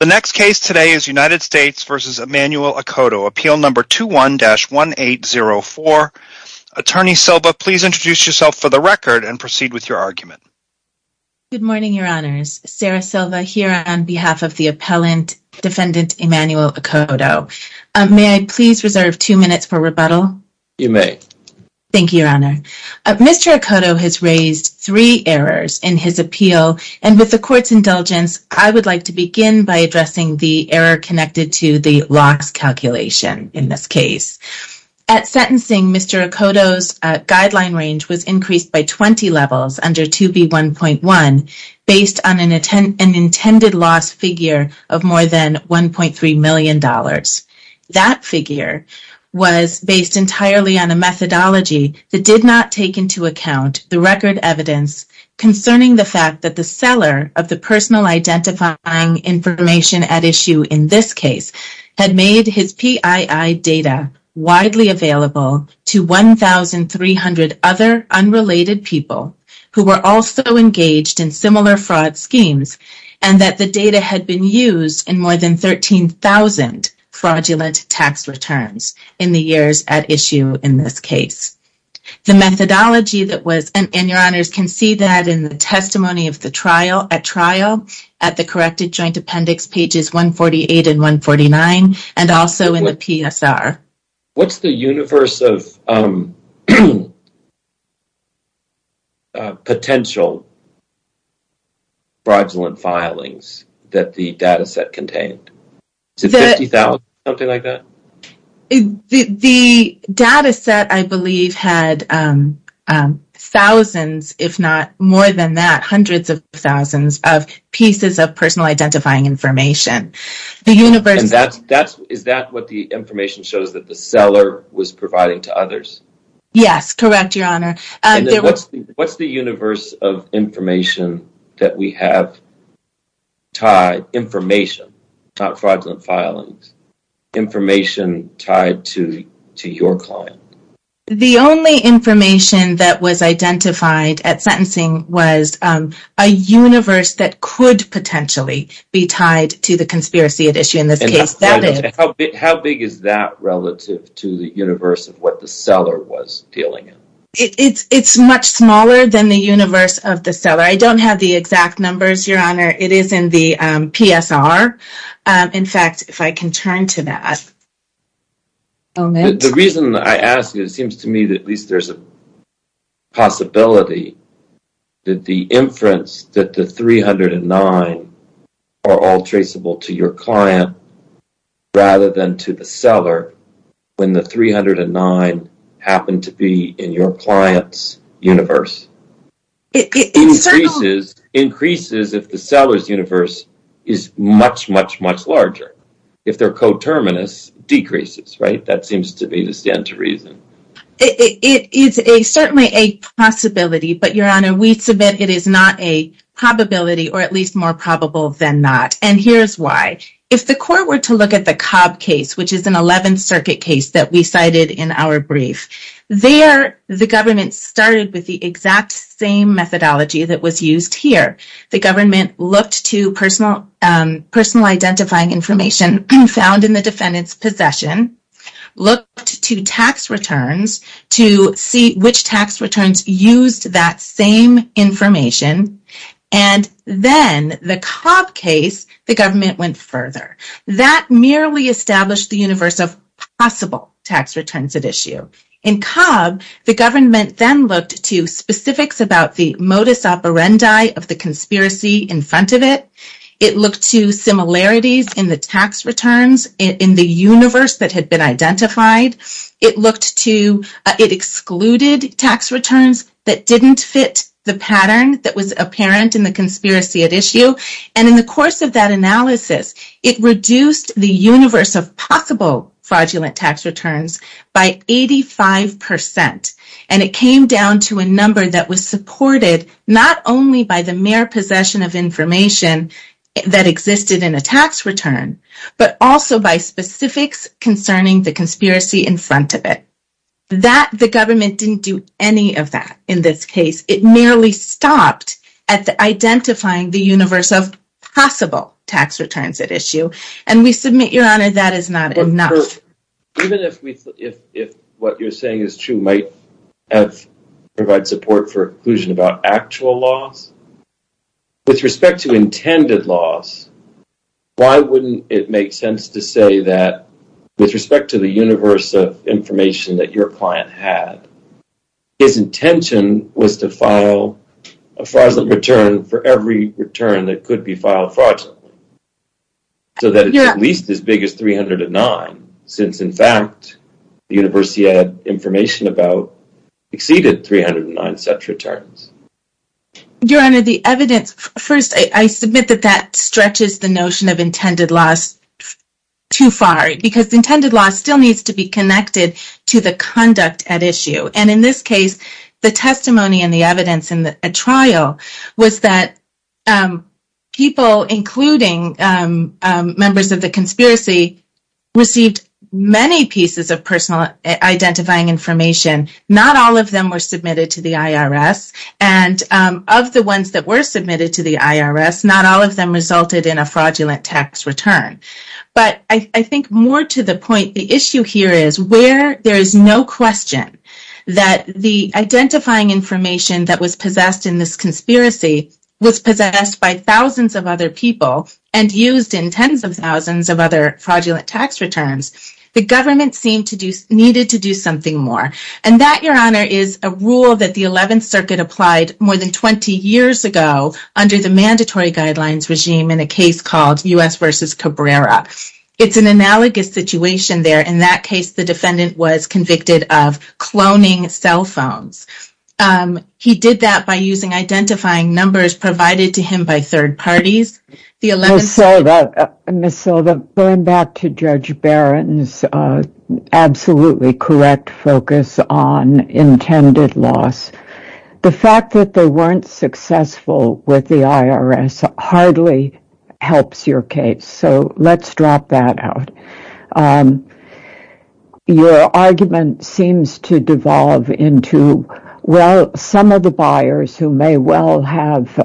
The next case today is United States v. Emmanuel Akoto, Appeal No. 21-1804. Attorney Silva, please introduce yourself for the record and proceed with your argument. Good morning, Your Honors. Sarah Silva here on behalf of the appellant, Defendant Emmanuel Akoto. May I please reserve two minutes for rebuttal? You may. Thank you, Your Honor. Mr. Akoto has raised three errors in his appeal, and with the Court's indulgence, I would like to begin by addressing the error connected to the locks calculation in this case. At sentencing, Mr. Akoto's guideline range was increased by 20 levels under 2B1.1 based on an intended loss figure of more than $1.3 million. That figure was based entirely on a methodology that did not take into account the record evidence concerning the fact that the seller of the personal identifying information at issue in this case had made his PII data widely available to 1,300 other unrelated people who were also engaged in similar fraud schemes, and that the data had been used in more than 13,000 fraudulent tax returns in the years at issue in this case. The methodology that was, and Your Honors can see that in the testimony of the trial at trial at the corrected joint appendix pages 148 and 149, and also in the PSR. What's the universe of potential fraudulent filings that the data set contained? Is it 50,000, something like that? The data set, I believe, had thousands, if not more than that, hundreds of thousands of pieces of personal identifying information. Is that what the information shows that the seller was providing to others? Yes, correct, Your Honor. What's the universe of information that we have tied? Information, not fraudulent filings. Information tied to your client. The only information that was identified at sentencing was a universe that could potentially be tied to the conspiracy at issue in this case. How big is that relative to the universe of what the seller was dealing in? It's much smaller than the universe of the seller. I don't have the exact numbers, Your Honor. It is in the PSR. In fact, if I can turn to that. The reason I ask you, it seems to me that at least there's a possibility that the inference that the 309 are all traceable to your client rather than to the seller when the 309 happened to be in your client's universe. It increases if the seller's universe is much, much, much larger. If they're coterminous, it decreases, right? That seems to me to stand to reason. It is certainly a possibility, but Your Honor, we submit it is not a probability or at least more probable than not. And here's why. If the court were to look at the Cobb case, which is an 11th Circuit case that we cited in our brief, there the government started with the exact same methodology that was used here. The government looked to personal identifying information found in the defendant's possession, looked to tax returns to see which tax returns used that same information, and then the Cobb case, the government went further. That merely established the universe of possible tax returns at issue. In Cobb, the government then looked to specifics about the modus operandi of the conspiracy in front of it. It looked to similarities in the tax returns in the universe that had been identified. It excluded tax returns that didn't fit the pattern that was apparent in the conspiracy at issue. And in the course of that analysis, it reduced the universe of possible fraudulent tax returns by 85%. And it came down to a number that was supported not only by the mere possession of information that existed in a tax return, but also by specifics concerning the conspiracy in front of it. The government didn't do any of that in this case. It merely stopped at identifying the universe of possible tax returns at issue. And we submit, Your Honor, that is not enough. Even if what you're saying is true, might provide support for inclusion about actual loss, with respect to intended loss, why wouldn't it make sense to say that with respect to the universe of information that your client had, his intention was to file a fraudulent return for every return that could be filed fraudulently, so that it's at least as big as 309, since, in fact, the universe he had information about exceeded 309 such returns. Your Honor, the evidence... First, I submit that that stretches the notion of intended loss too far, because intended loss still needs to be connected to the conduct at issue. And in this case, the testimony and the evidence in the trial was that people, including members of the conspiracy, received many pieces of personal identifying information. Not all of them were submitted to the IRS. And of the ones that were submitted to the IRS, not all of them resulted in a fraudulent tax return. But I think more to the point, the issue here is where there is no question that the identifying information that was possessed in this conspiracy was possessed by thousands of other people and used in tens of thousands of other fraudulent tax returns, the government seemed to need to do something more. And that, Your Honor, is a rule that the 11th Circuit applied more than 20 years ago under the mandatory guidelines regime in a case called U.S. v. Cabrera. It's an analogous situation there. In that case, the defendant was convicted of cloning cell phones. He did that by using identifying numbers provided to him by third parties. Ms. Silva, going back to Judge Barron's absolutely correct focus on intended loss, the fact that they weren't successful with the IRS hardly helps your case. So let's drop that out. Your argument seems to devolve into, well, some of the buyers who may well have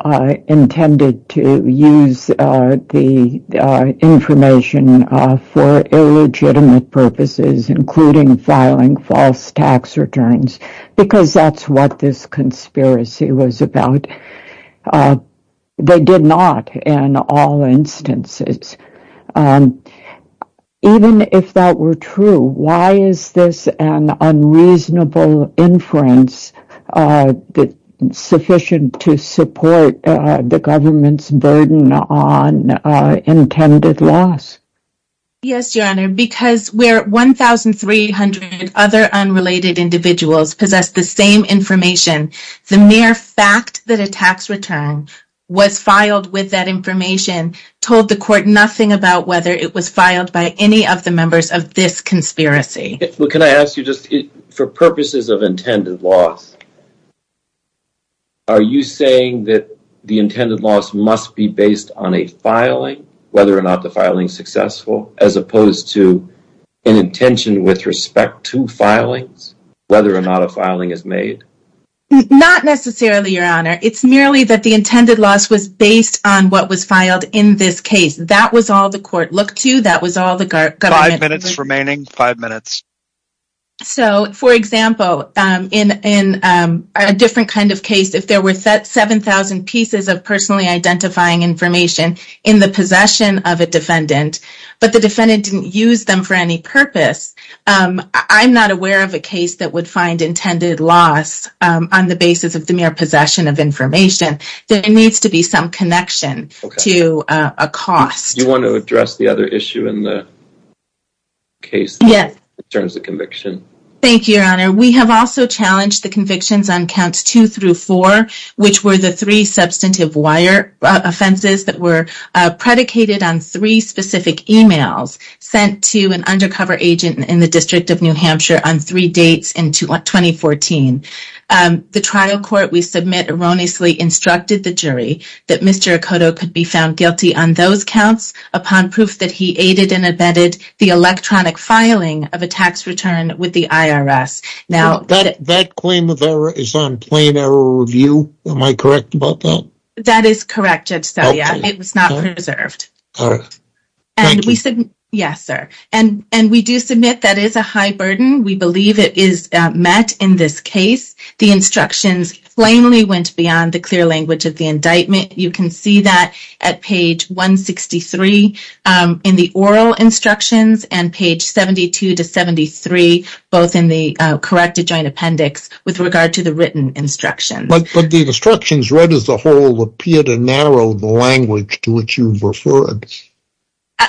intended to use the information for illegitimate purposes, including filing false tax returns, because that's what this conspiracy was about. They did not in all instances. Even if that were true, why is this an unreasonable inference sufficient to support the government's burden on intended loss? Yes, Your Honor, because where 1,300 other unrelated individuals possess the same information, the mere fact that a tax return was filed with that information told the court nothing about whether it was filed by any of the members of this conspiracy. Well, can I ask you just, for purposes of intended loss, are you saying that the intended loss must be based on a filing, whether or not the filing is successful, as opposed to an intention with respect to filings, whether or not a filing is made? Not necessarily, Your Honor. It's merely that the intended loss was based on what was filed in this case. That was all the court looked to. That was all the government looked to. Five minutes remaining. Five minutes. So, for example, in a different kind of case, if there were 7,000 pieces of personally identifying information in the possession of a defendant, but the defendant didn't use them for any purpose, I'm not aware of a case that would find intended loss on the basis of the mere possession of information. There needs to be some connection to a cost. Do you want to address the other issue in the case in terms of conviction? Thank you, Your Honor. We have also challenged the convictions on Counts 2 through 4, which were the three substantive wire offenses that were predicated on three specific emails sent to an undercover agent in the District of New Hampshire on three dates in 2014. The trial court we submit erroneously instructed the jury that Mr. Okoto could be found guilty on those counts upon proof that he aided and abetted the electronic filing of a tax return with the IRS. That claim of error is on plain error review. Am I correct about that? That is correct, Judge Stelia. It was not preserved. All right. Thank you. Yes, sir. And we do submit that is a high burden. We believe it is met in this case. The instructions plainly went beyond the clear language of the indictment. You can see that at page 163 in the oral instructions and page 72 to 73, both in the corrected joint appendix, with regard to the written instructions. But the instructions read as a whole appear to narrow the language to which you referred.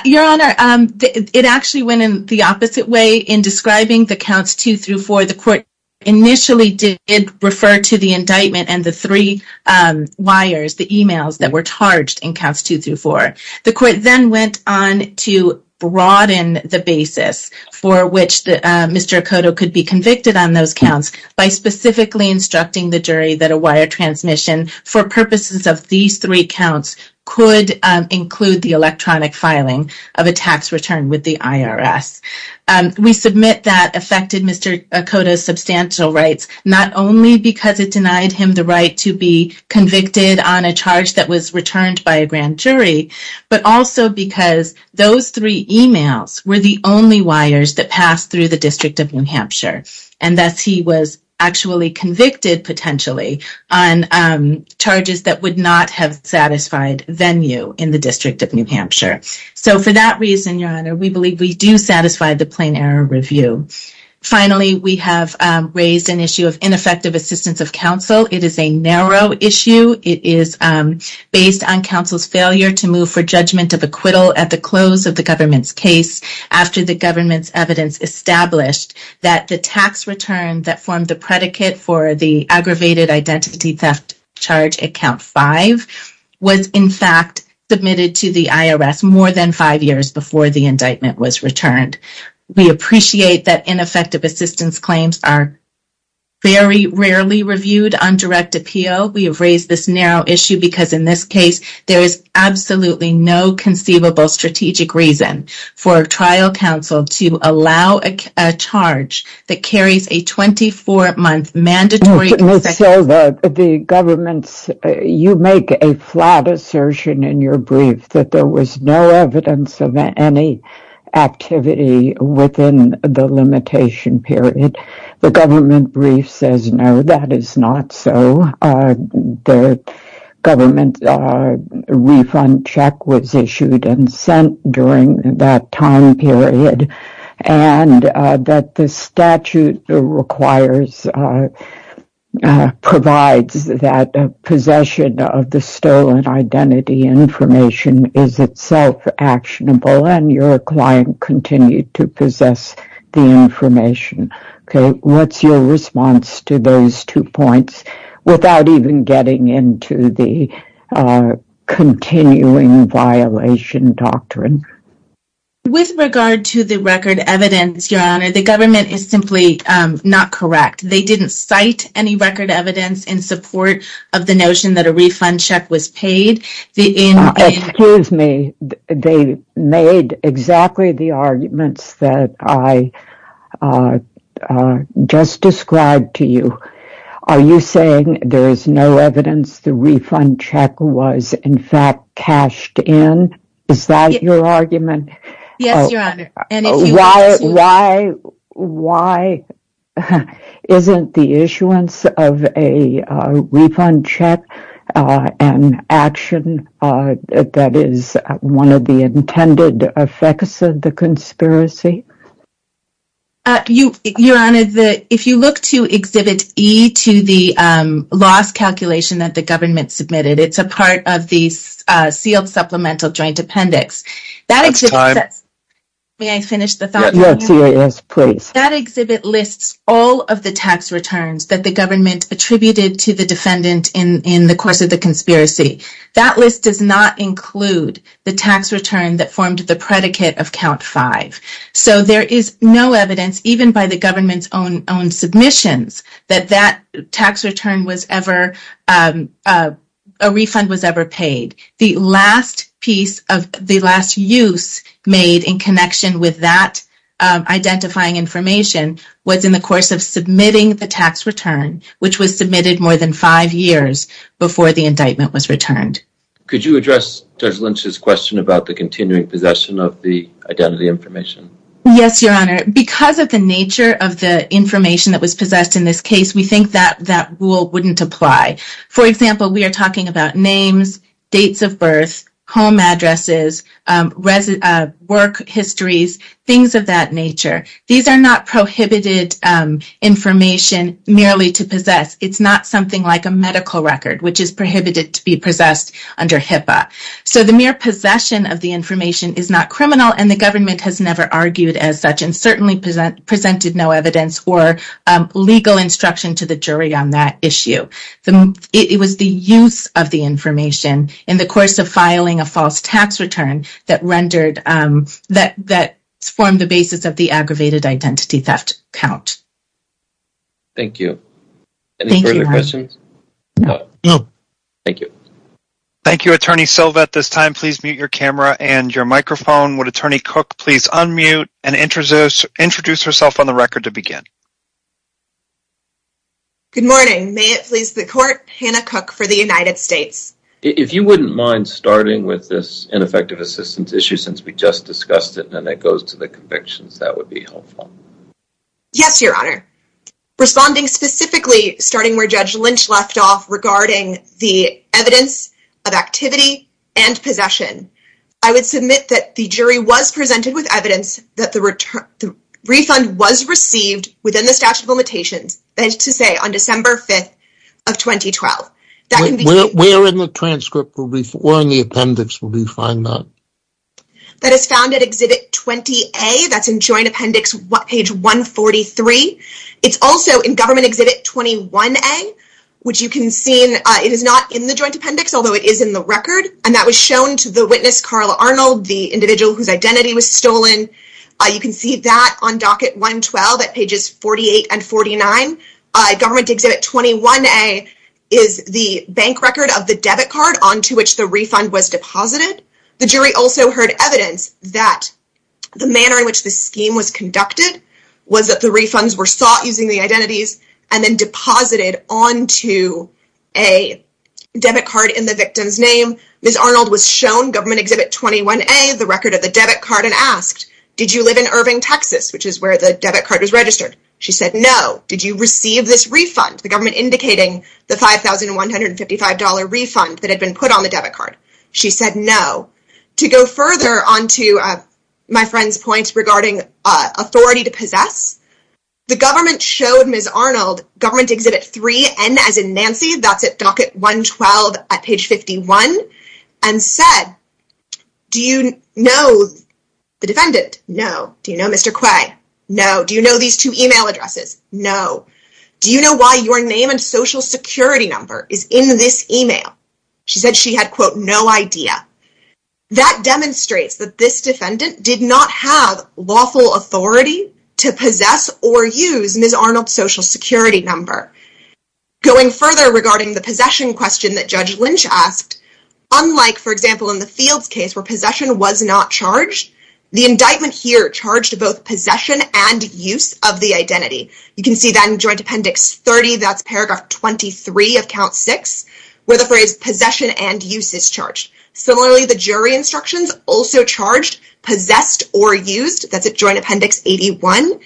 Your Honor, it actually went in the opposite way. In describing the Counts 2 through 4, the court initially did refer to the indictment and the three wires, the emails that were charged in Counts 2 through 4. The court then went on to broaden the basis for which Mr. Okoto could be convicted on those counts by specifically instructing the jury that a wire transmission for purposes of these three counts could include the electronic filing of a tax return with the IRS. We submit that affected Mr. Okoto's substantial rights not only because it denied him the right to be convicted on a charge that was returned by a grand jury, but also because those three emails were the only wires that passed through the District of New Hampshire, and thus he was actually convicted potentially on charges that would not have satisfied venue in the District of New Hampshire. So for that reason, Your Honor, we believe we do satisfy the plain error review. Finally, we have raised an issue of ineffective assistance of counsel. It is a narrow issue. It is based on counsel's failure to move for judgment of acquittal at the close of the government's case after the government's evidence established that the tax return that formed the predicate for the aggravated identity theft charge at Count 5 was, in fact, submitted to the IRS more than five years before the indictment was returned. We appreciate that ineffective assistance claims are very rarely reviewed on direct appeal. We have raised this narrow issue because, in this case, there is absolutely no conceivable strategic reason for a trial counsel to allow a charge that carries a 24-month mandatory... You make a flat assertion in your brief that there was no evidence of any activity within the limitation period. The government brief says, no, that is not so. The government refund check was issued and sent during that time period, and that the statute requires...provides that possession of the stolen identity information is itself actionable and your client continue to possess the information. Okay, what's your response to those two points without even getting into the continuing violation doctrine? With regard to the record evidence, Your Honor, the government is simply not correct. They didn't cite any record evidence in support of the notion that a refund check was paid. Excuse me. They made exactly the arguments that I just described to you. Are you saying there is no evidence the refund check was, in fact, cashed in? Yes, Your Honor. Why isn't the issuance of a refund check an action that is one of the intended effects of the conspiracy? Your Honor, if you look to Exhibit E to the loss calculation that the government submitted, it's a part of the sealed supplemental joint appendix. That exhibit... That's time. May I finish the thought? Yes, please. That exhibit lists all of the tax returns that the government attributed to the defendant in the course of the conspiracy. That list does not include the tax return that formed the predicate of Count 5. So there is no evidence, even by the government's own submissions, that that tax return was ever...a refund was ever paid. The last piece of...the last use made in connection with that identifying information was in the course of submitting the tax return, which was submitted more than five years before the indictment was returned. Could you address Judge Lynch's question about the continuing possession of the identity information? Yes, Your Honor. Because of the nature of the information that was possessed in this case, we think that that rule wouldn't apply. For example, we are talking about names, dates of birth, home addresses, work histories, things of that nature. These are not prohibited information merely to possess. It's not something like a medical record, which is prohibited to be possessed under HIPAA. So the mere possession of the information is not criminal, and the government has never argued as such and certainly presented no evidence or legal instruction to the jury on that issue. It was the use of the information in the course of filing a false tax return that rendered...that formed the basis of the aggravated identity theft count. Thank you. Any further questions? No. Thank you. Thank you, Attorney Silvett. At this time, please mute your camera and your microphone. Would Attorney Cook please unmute and introduce herself on the record to begin? Good morning. May it please the court, Hannah Cook for the United States. If you wouldn't mind starting with this ineffective assistance issue since we just discussed it and it goes to the convictions, that would be helpful. Yes, Your Honor. Responding specifically starting where Judge Lynch left off regarding the evidence of activity and possession, I would submit that the jury was presented with evidence that the refund was received within the statute of limitations, that is to say, on December 5th of 2012. That can be... Where in the transcript or in the appendix will we find that? That is found at Exhibit 20A. That's in Joint Appendix page 143. It's also in Government Exhibit 21A, which you can see it is not in the Joint Appendix, although it is in the record, and that was shown to the witness, Carla Arnold, the individual whose identity was stolen. You can see that on Docket 112 at pages 48 and 49. Government Exhibit 21A is the bank record of the debit card onto which the refund was deposited. The jury also heard evidence that the manner in which the scheme was conducted was that the refunds were sought using the identities and then deposited onto a debit card in the victim's name. Ms. Arnold was shown Government Exhibit 21A, the record of the debit card, and asked, did you live in Irving, Texas, which is where the debit card was registered? She said no. Did you receive this refund, the government indicating the $5,155 refund that had been put on the debit card? She said no. To go further onto my friend's point regarding authority to possess, the government showed Ms. Arnold Government Exhibit 3N, as in Nancy, that's at Docket 112 at page 51, and said, do you know the defendant? No. Do you know Mr. Quay? No. Do you know these two email addresses? No. Do you know why your name and Social Security number is in this email? She said she had, quote, no idea. That demonstrates that this defendant did not have lawful authority to possess or use Ms. Arnold's Social Security number. Going further regarding the possession question that Judge Lynch asked, unlike, for example, in the Fields case where possession was not charged, the indictment here charged both possession and use of the identity. You can see that in Joint Appendix 30, that's paragraph 23 of Count 6, where the phrase possession and use is charged. Similarly, the jury instructions also charged possessed or used. That's at Joint Appendix 81.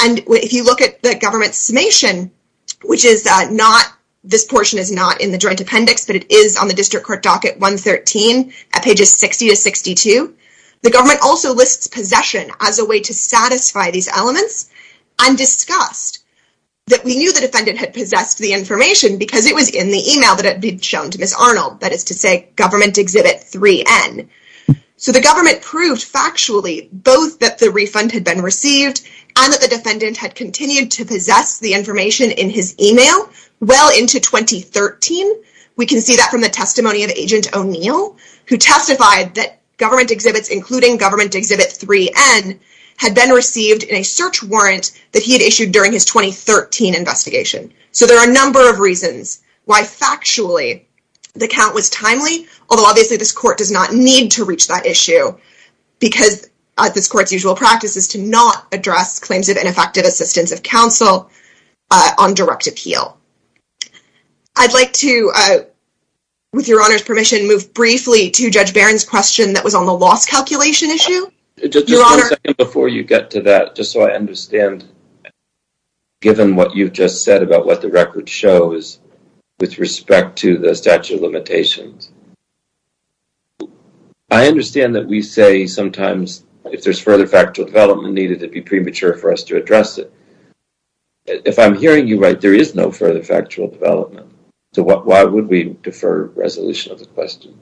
And if you look at the government's summation, which is not, this portion is not in the Joint Appendix, but it is on the District Court Docket 113 at pages 60 to 62, the government also lists possession as a way to satisfy these elements, and discussed that we knew the defendant had possessed the information because it was in the email that had been shown to Ms. Arnold, that is to say, Government Exhibit 3N. So the government proved factually both that the refund had been received and that the defendant had continued to possess the information in his email well into 2013. We can see that from the testimony of Agent O'Neill, who testified that government exhibits, including Government Exhibit 3N, had been received in a search warrant that he had issued during his 2013 investigation. So there are a number of reasons why factually the count was timely, although obviously this court does not need to reach that issue because this court's usual practice is to not address claims of ineffective assistance of counsel on direct appeal. I'd like to, with your Honor's permission, move briefly to Judge Barron's question that was on the loss calculation issue. Just one second before you get to that, just so I understand, given what you've just said about what the record shows with respect to the statute of limitations. I understand that we say sometimes if there's further factual development needed, it'd be premature for us to address it. If I'm hearing you right, there is no further factual development. So why would we defer resolution of the question?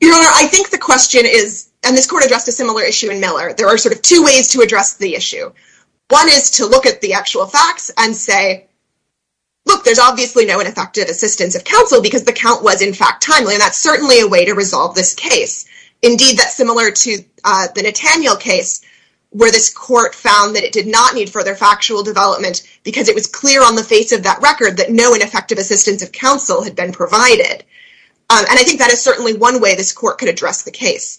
Your Honor, I think the question is, and this court addressed a similar issue in Miller, there are sort of two ways to address the issue. One is to look at the actual facts and say, look, there's obviously no ineffective assistance of counsel because the count was, in fact, timely. And that's certainly a way to resolve this case. Indeed, that's similar to the Netanyahu case, where this court found that it did not need further factual development because it was clear on the face of that record that no ineffective assistance of counsel had been provided. And I think that is certainly one way this court could address the case.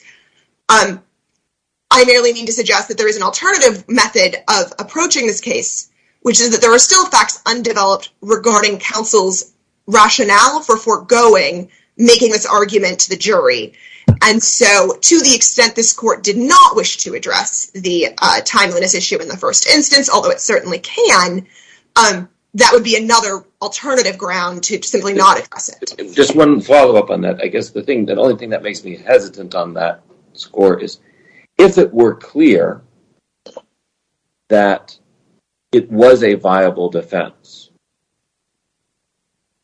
I merely mean to suggest that there is an alternative method of approaching this case, which is that there are still facts undeveloped regarding counsel's never-foregoing making this argument to the jury. And so to the extent this court did not wish to address the timeliness issue in the first instance, although it certainly can, that would be another alternative ground to simply not address it. Just one follow-up on that. I guess the only thing that makes me hesitant on that score is, if it were clear that it was a viable defense,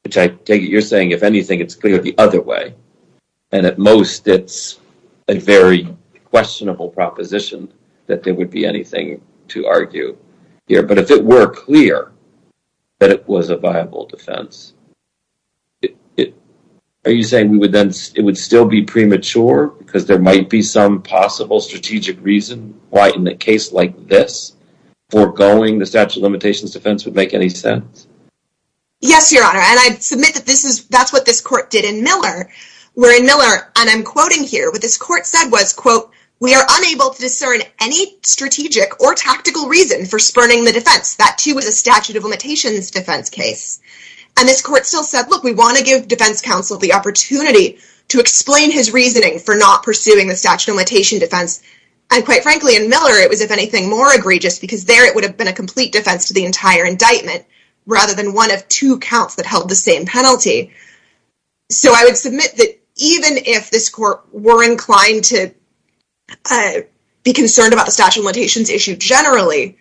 which I take it you're saying, if anything, it's clear the other way, and at most it's a very questionable proposition that there would be anything to argue here. But if it were clear that it was a viable defense, are you saying it would still be premature because there might be some possible strategic reason why in a case like this foregoing the statute of limitations defense would make any sense? Yes, Your Honor. And I submit that that's what this court did in Miller. Where in Miller, and I'm quoting here, what this court said was, quote, we are unable to discern any strategic or tactical reason for spurning the defense. That too was a statute of limitations defense case. And this court still said, look, we want to give defense counsel the opportunity to explain his reasoning for not pursuing the statute of limitations defense. And quite frankly, in Miller, it was, if anything, more egregious because there it would have been a complete defense to the entire indictment rather than one of two counts that held the same penalty. So I would submit that even if this court were inclined to be concerned about the statute of limitations issue generally,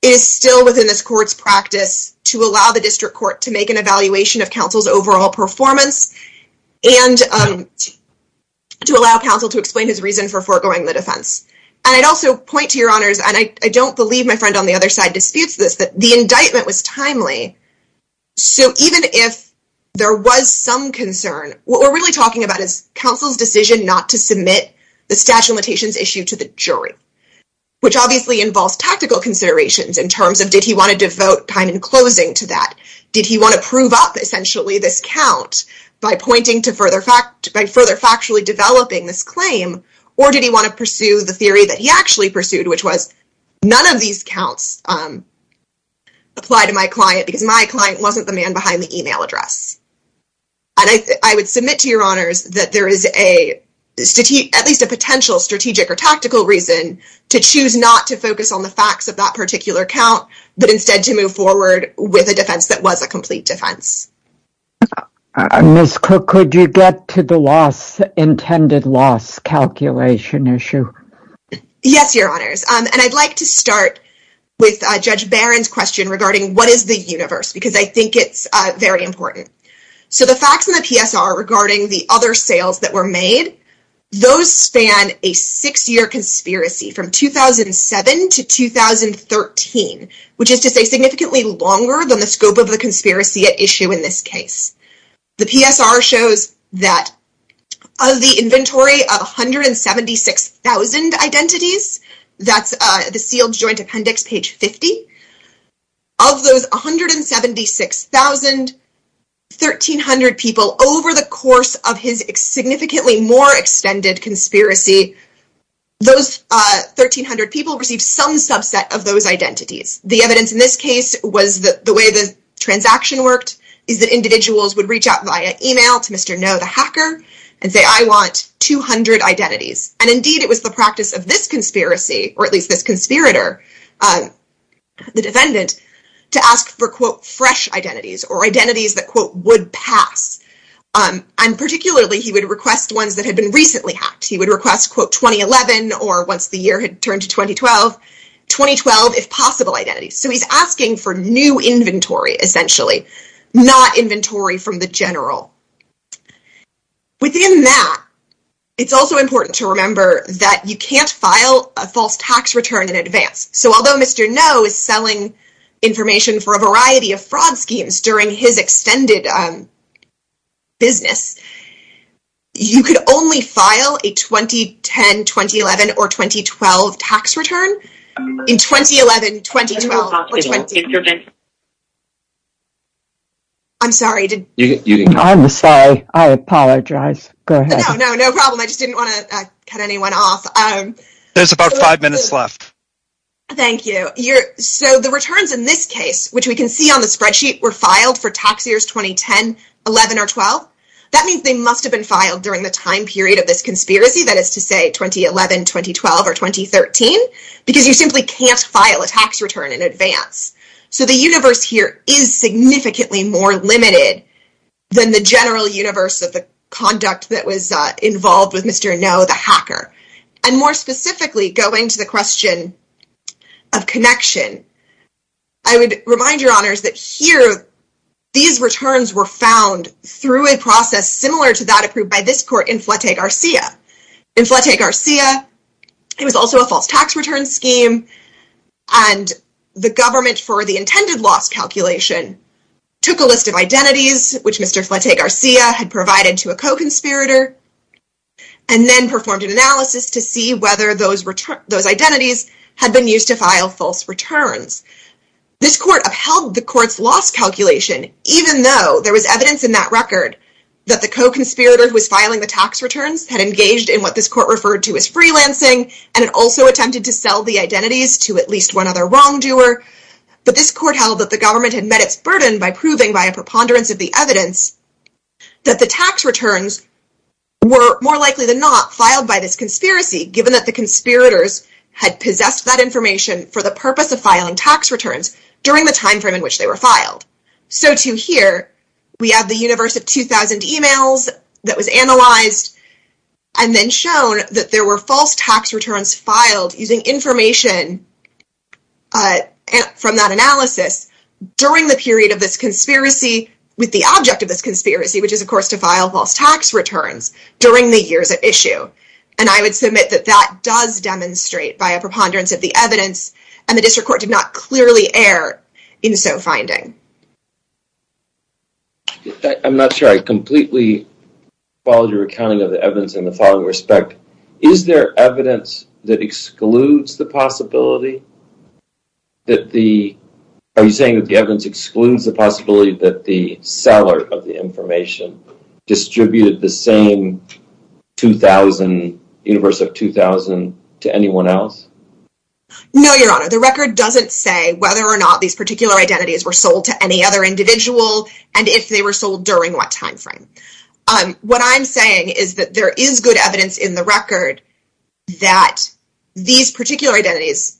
it is still within this court's practice to allow the district court to make an evaluation of counsel's overall performance and to allow counsel to explain his reason for foregoing the defense. And I'd also point to Your Honors, and I don't believe my friend on the other side disputes this, that the indictment was timely. So even if there was some concern, what we're really talking about is counsel's decision not to submit the statute of limitations issue to the jury, which obviously involves tactical considerations in terms of, did he want to devote time in closing to that? Did he want to prove up essentially this count by further factually developing this claim, or did he want to pursue the theory that he actually pursued, which was none of these counts apply to my client because my client wasn't the man behind the email address. And I would submit to Your Honors that there is at least a potential strategic or tactical reason to choose not to focus on the facts of that particular count, but instead to move forward with a defense that was a complete defense. Ms. Cook, could you get to the intended loss calculation issue? Yes, Your Honors. And I'd like to start with Judge Barron's question regarding what is the universe, because I think it's very important. So the facts in the PSR regarding the other sales that were made, those span a six-year conspiracy from 2007 to 2013, which is to say significantly longer than the scope of the conspiracy at issue in this case. The PSR shows that of the inventory of 176,000 identities, that's the sealed joint appendix, page 50, of those 176,000, 1,300 people, over the course of his significantly more extended conspiracy, those 1,300 people received some subset of those identities. The evidence in this case was that the way the transaction worked is that individuals would reach out via email to Mr. No, the hacker, and say, I want 200 identities. And indeed, it was the practice of this conspiracy, or at least this conspirator, the defendant, to ask for, quote, fresh identities, or identities that, quote, would pass. And particularly, he would request ones that had been recently hacked. He would request, quote, 2011, or once the year had turned to 2012, 2012, if possible, identities. So he's asking for new inventory, essentially, not inventory from the general. Within that, it's also important to remember that you can't file a false tax return in advance. So although Mr. No is selling information for a variety of fraud schemes during his extended business, you could only file a 2010, 2011, or 2012 tax return in 2011, 2012, or 20. I'm sorry. I'm sorry. I apologize. Go ahead. No, no, no problem. I just didn't want to cut anyone off. There's about five minutes left. Thank you. So the returns in this case, which we can see on the spreadsheet, were filed for tax years 2010, 11, or 12. That means they must have been filed during the time period of this conspiracy. That is to say, 2011, 2012, or 2013, because you simply can't file a tax return in advance. So the universe here is significantly more limited than the general universe of the conduct that was involved with Mr. No, the hacker. And more specifically, going to the question of connection, I would remind your honors that here, these returns were a process similar to that approved by this court in Flatey Garcia. In Flatey Garcia, it was also a false tax return scheme. And the government, for the intended loss calculation, took a list of identities, which Mr. Flatey Garcia had provided to a co-conspirator, and then performed an analysis to see whether those identities had been used to file false returns. This court upheld the court's loss calculation, even though there was evidence in that record that the co-conspirator who was filing the tax returns had engaged in what this court referred to as freelancing, and had also attempted to sell the identities to at least one other wrongdoer. But this court held that the government had met its burden by proving, by a preponderance of the evidence, that the tax returns were more likely than not filed by this conspiracy, given that the conspirators had possessed that information for the purpose of filing tax returns during the time frame in which they were filed. So to here, we have the universe of 2,000 emails that was analyzed, and then shown that there were false tax returns filed using information from that analysis during the period of this conspiracy with the object of this conspiracy, which is, of course, to file false tax returns during the years at issue. And I would submit that that does demonstrate, by a preponderance of the evidence, and the district court did not clearly err in so finding. I'm not sure I completely followed your accounting of the evidence in the following respect. Is there evidence that excludes the possibility that the... Are you saying that the evidence excludes the possibility that the seller of the information distributed the same 2,000, universe of 2,000, to anyone else? No, Your Honor. The record doesn't say whether or not these particular identities were sold to any other individual, and if they were sold during what time frame. What I'm saying is that there is good evidence in the record that these particular identities,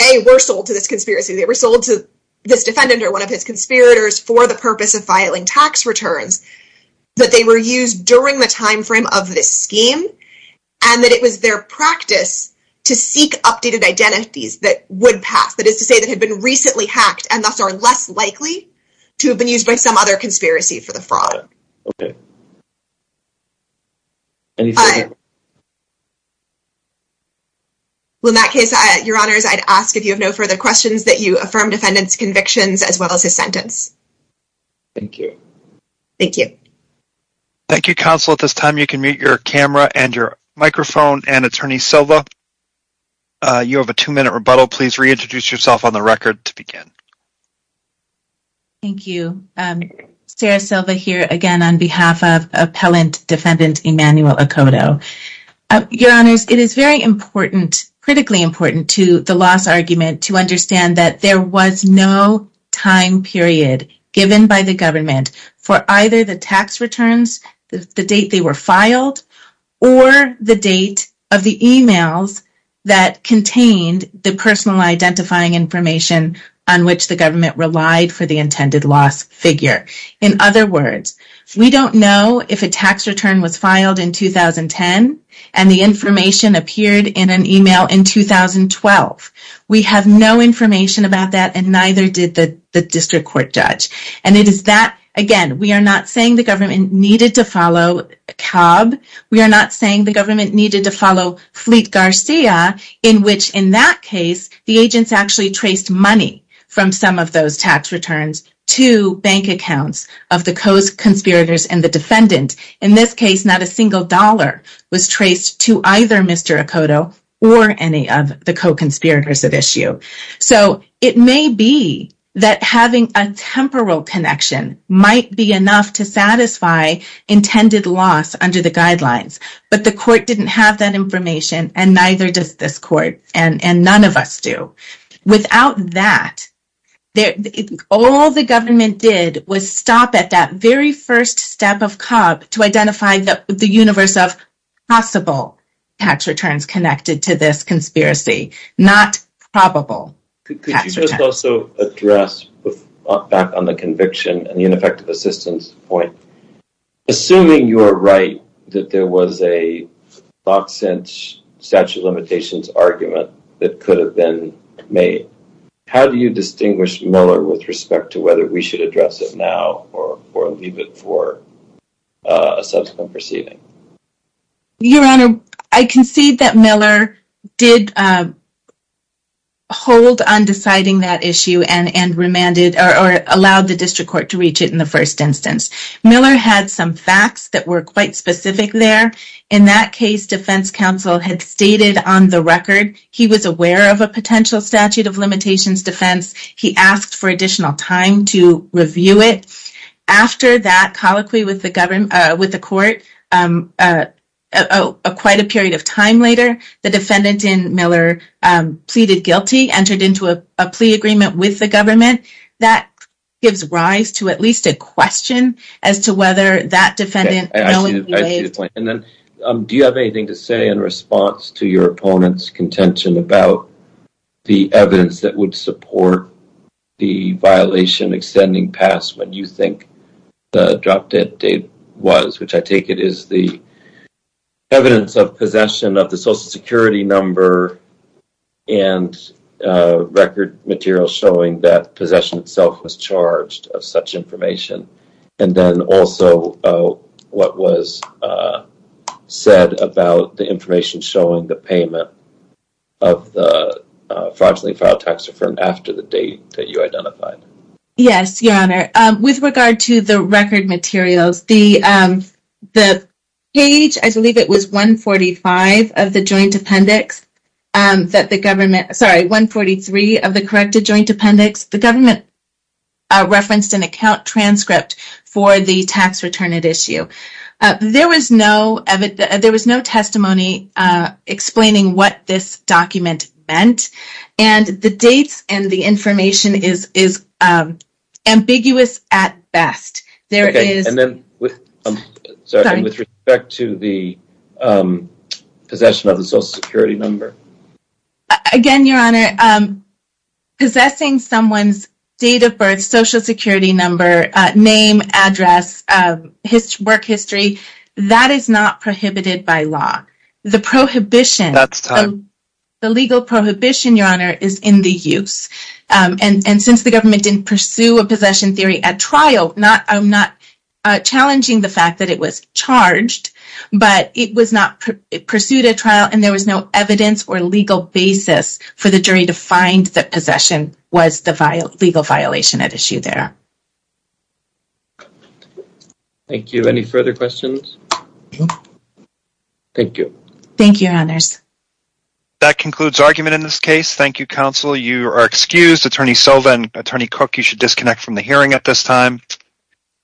A, were sold to this conspiracy. They were sold to this defendant or one of his conspirators for the purpose of filing tax returns, but they were used during the time frame of this scheme, and that it was their practice to seek updated identities that would pass. That is to say, that had been recently hacked and thus are less likely to have been used by some other conspiracy for the fraud. Okay. Well, in that case, Your Honors, I'd ask if you have no further questions that you affirm defendant's convictions as well as his sentence. Thank you. Thank you. Thank you, Counsel. At this time, you can mute your camera and your microphone and Attorney Silva. You have a two-minute rebuttal. Please reintroduce yourself on the record to begin. Thank you. Sarah Silva here again on behalf of Appellant Defendant Emmanuel Okoto. Your Honors, it is very important, critically important to the loss argument to understand that there was no time period given by the government for either the tax returns, the date they were filed, or the date of the emails that contained the personal identifying information on which the government relied for the intended loss figure. In other words, we don't know if a tax return was filed in 2010 and the information appeared in an email in 2012. We have no information about that and neither did the Again, we are not saying the government needed to follow Cobb. We are not saying the government needed to follow Fleet Garcia, in which, in that case, the agents actually traced money from some of those tax returns to bank accounts of the co-conspirators and the defendant. In this case, not a single dollar was traced to either Mr. Okoto or any of the co-conspirators at issue. So, it may be that having a temporal connection might be enough to satisfy intended loss under the guidelines, but the court didn't have that information and neither does this court and none of us do. Without that, all the government did was stop at that very first step of Cobb to identify the universe of possible tax returns connected to this conspiracy, not probable tax returns. Could you just also address, back on the conviction and the ineffective assistance point, assuming you are right that there was a statute of limitations argument that could have been made, how do you distinguish Miller with respect to whether we should address it now or leave it for a subsequent proceeding? Your Honor, I hold on deciding that issue and allowed the district court to reach it in the first instance. Miller had some facts that were quite specific there. In that case, defense counsel had stated on the record he was aware of a potential statute of limitations defense. He asked for additional time to review it. After that colloquy with the court, quite a period of time later, the defendant in Miller pleaded guilty and entered into a plea agreement with the government. That gives rise to at least a question as to whether that defendant knowingly waived. Do you have anything to say in response to your opponent's contention about the evidence that would support the violation extending past what you think the drop-dead date was, which I take it is the evidence of possession of the social security number and record material showing that possession itself was charged of such information. And then also what was said about the information showing the payment of the fraudulently filed tax reform after the date that you identified. Yes, Your Honor. With regard to the page, I believe it was 145 of the joint appendix that the government sorry, 143 of the corrected joint appendix. The government referenced an account transcript for the tax return at issue. There was no testimony explaining what this document meant and the dates and the information is ambiguous at best. And then with respect to the possession of the social security number. Again, Your Honor, possessing someone's date of birth, social security number, name, address, work history, that is not prohibited by law. The prohibition the legal prohibition, Your Honor, is in the use. And since the government didn't pursue a trial, I'm not challenging the fact that it was charged, but it was not pursued a trial and there was no evidence or legal basis for the jury to find that possession was the legal violation at issue there. Thank you. Any further questions? Thank you. Thank you, Your Honors. That concludes argument in this case. Thank you, counsel. You are excused. Attorney Silva and Attorney Cook, you should disconnect from the hearing at this time.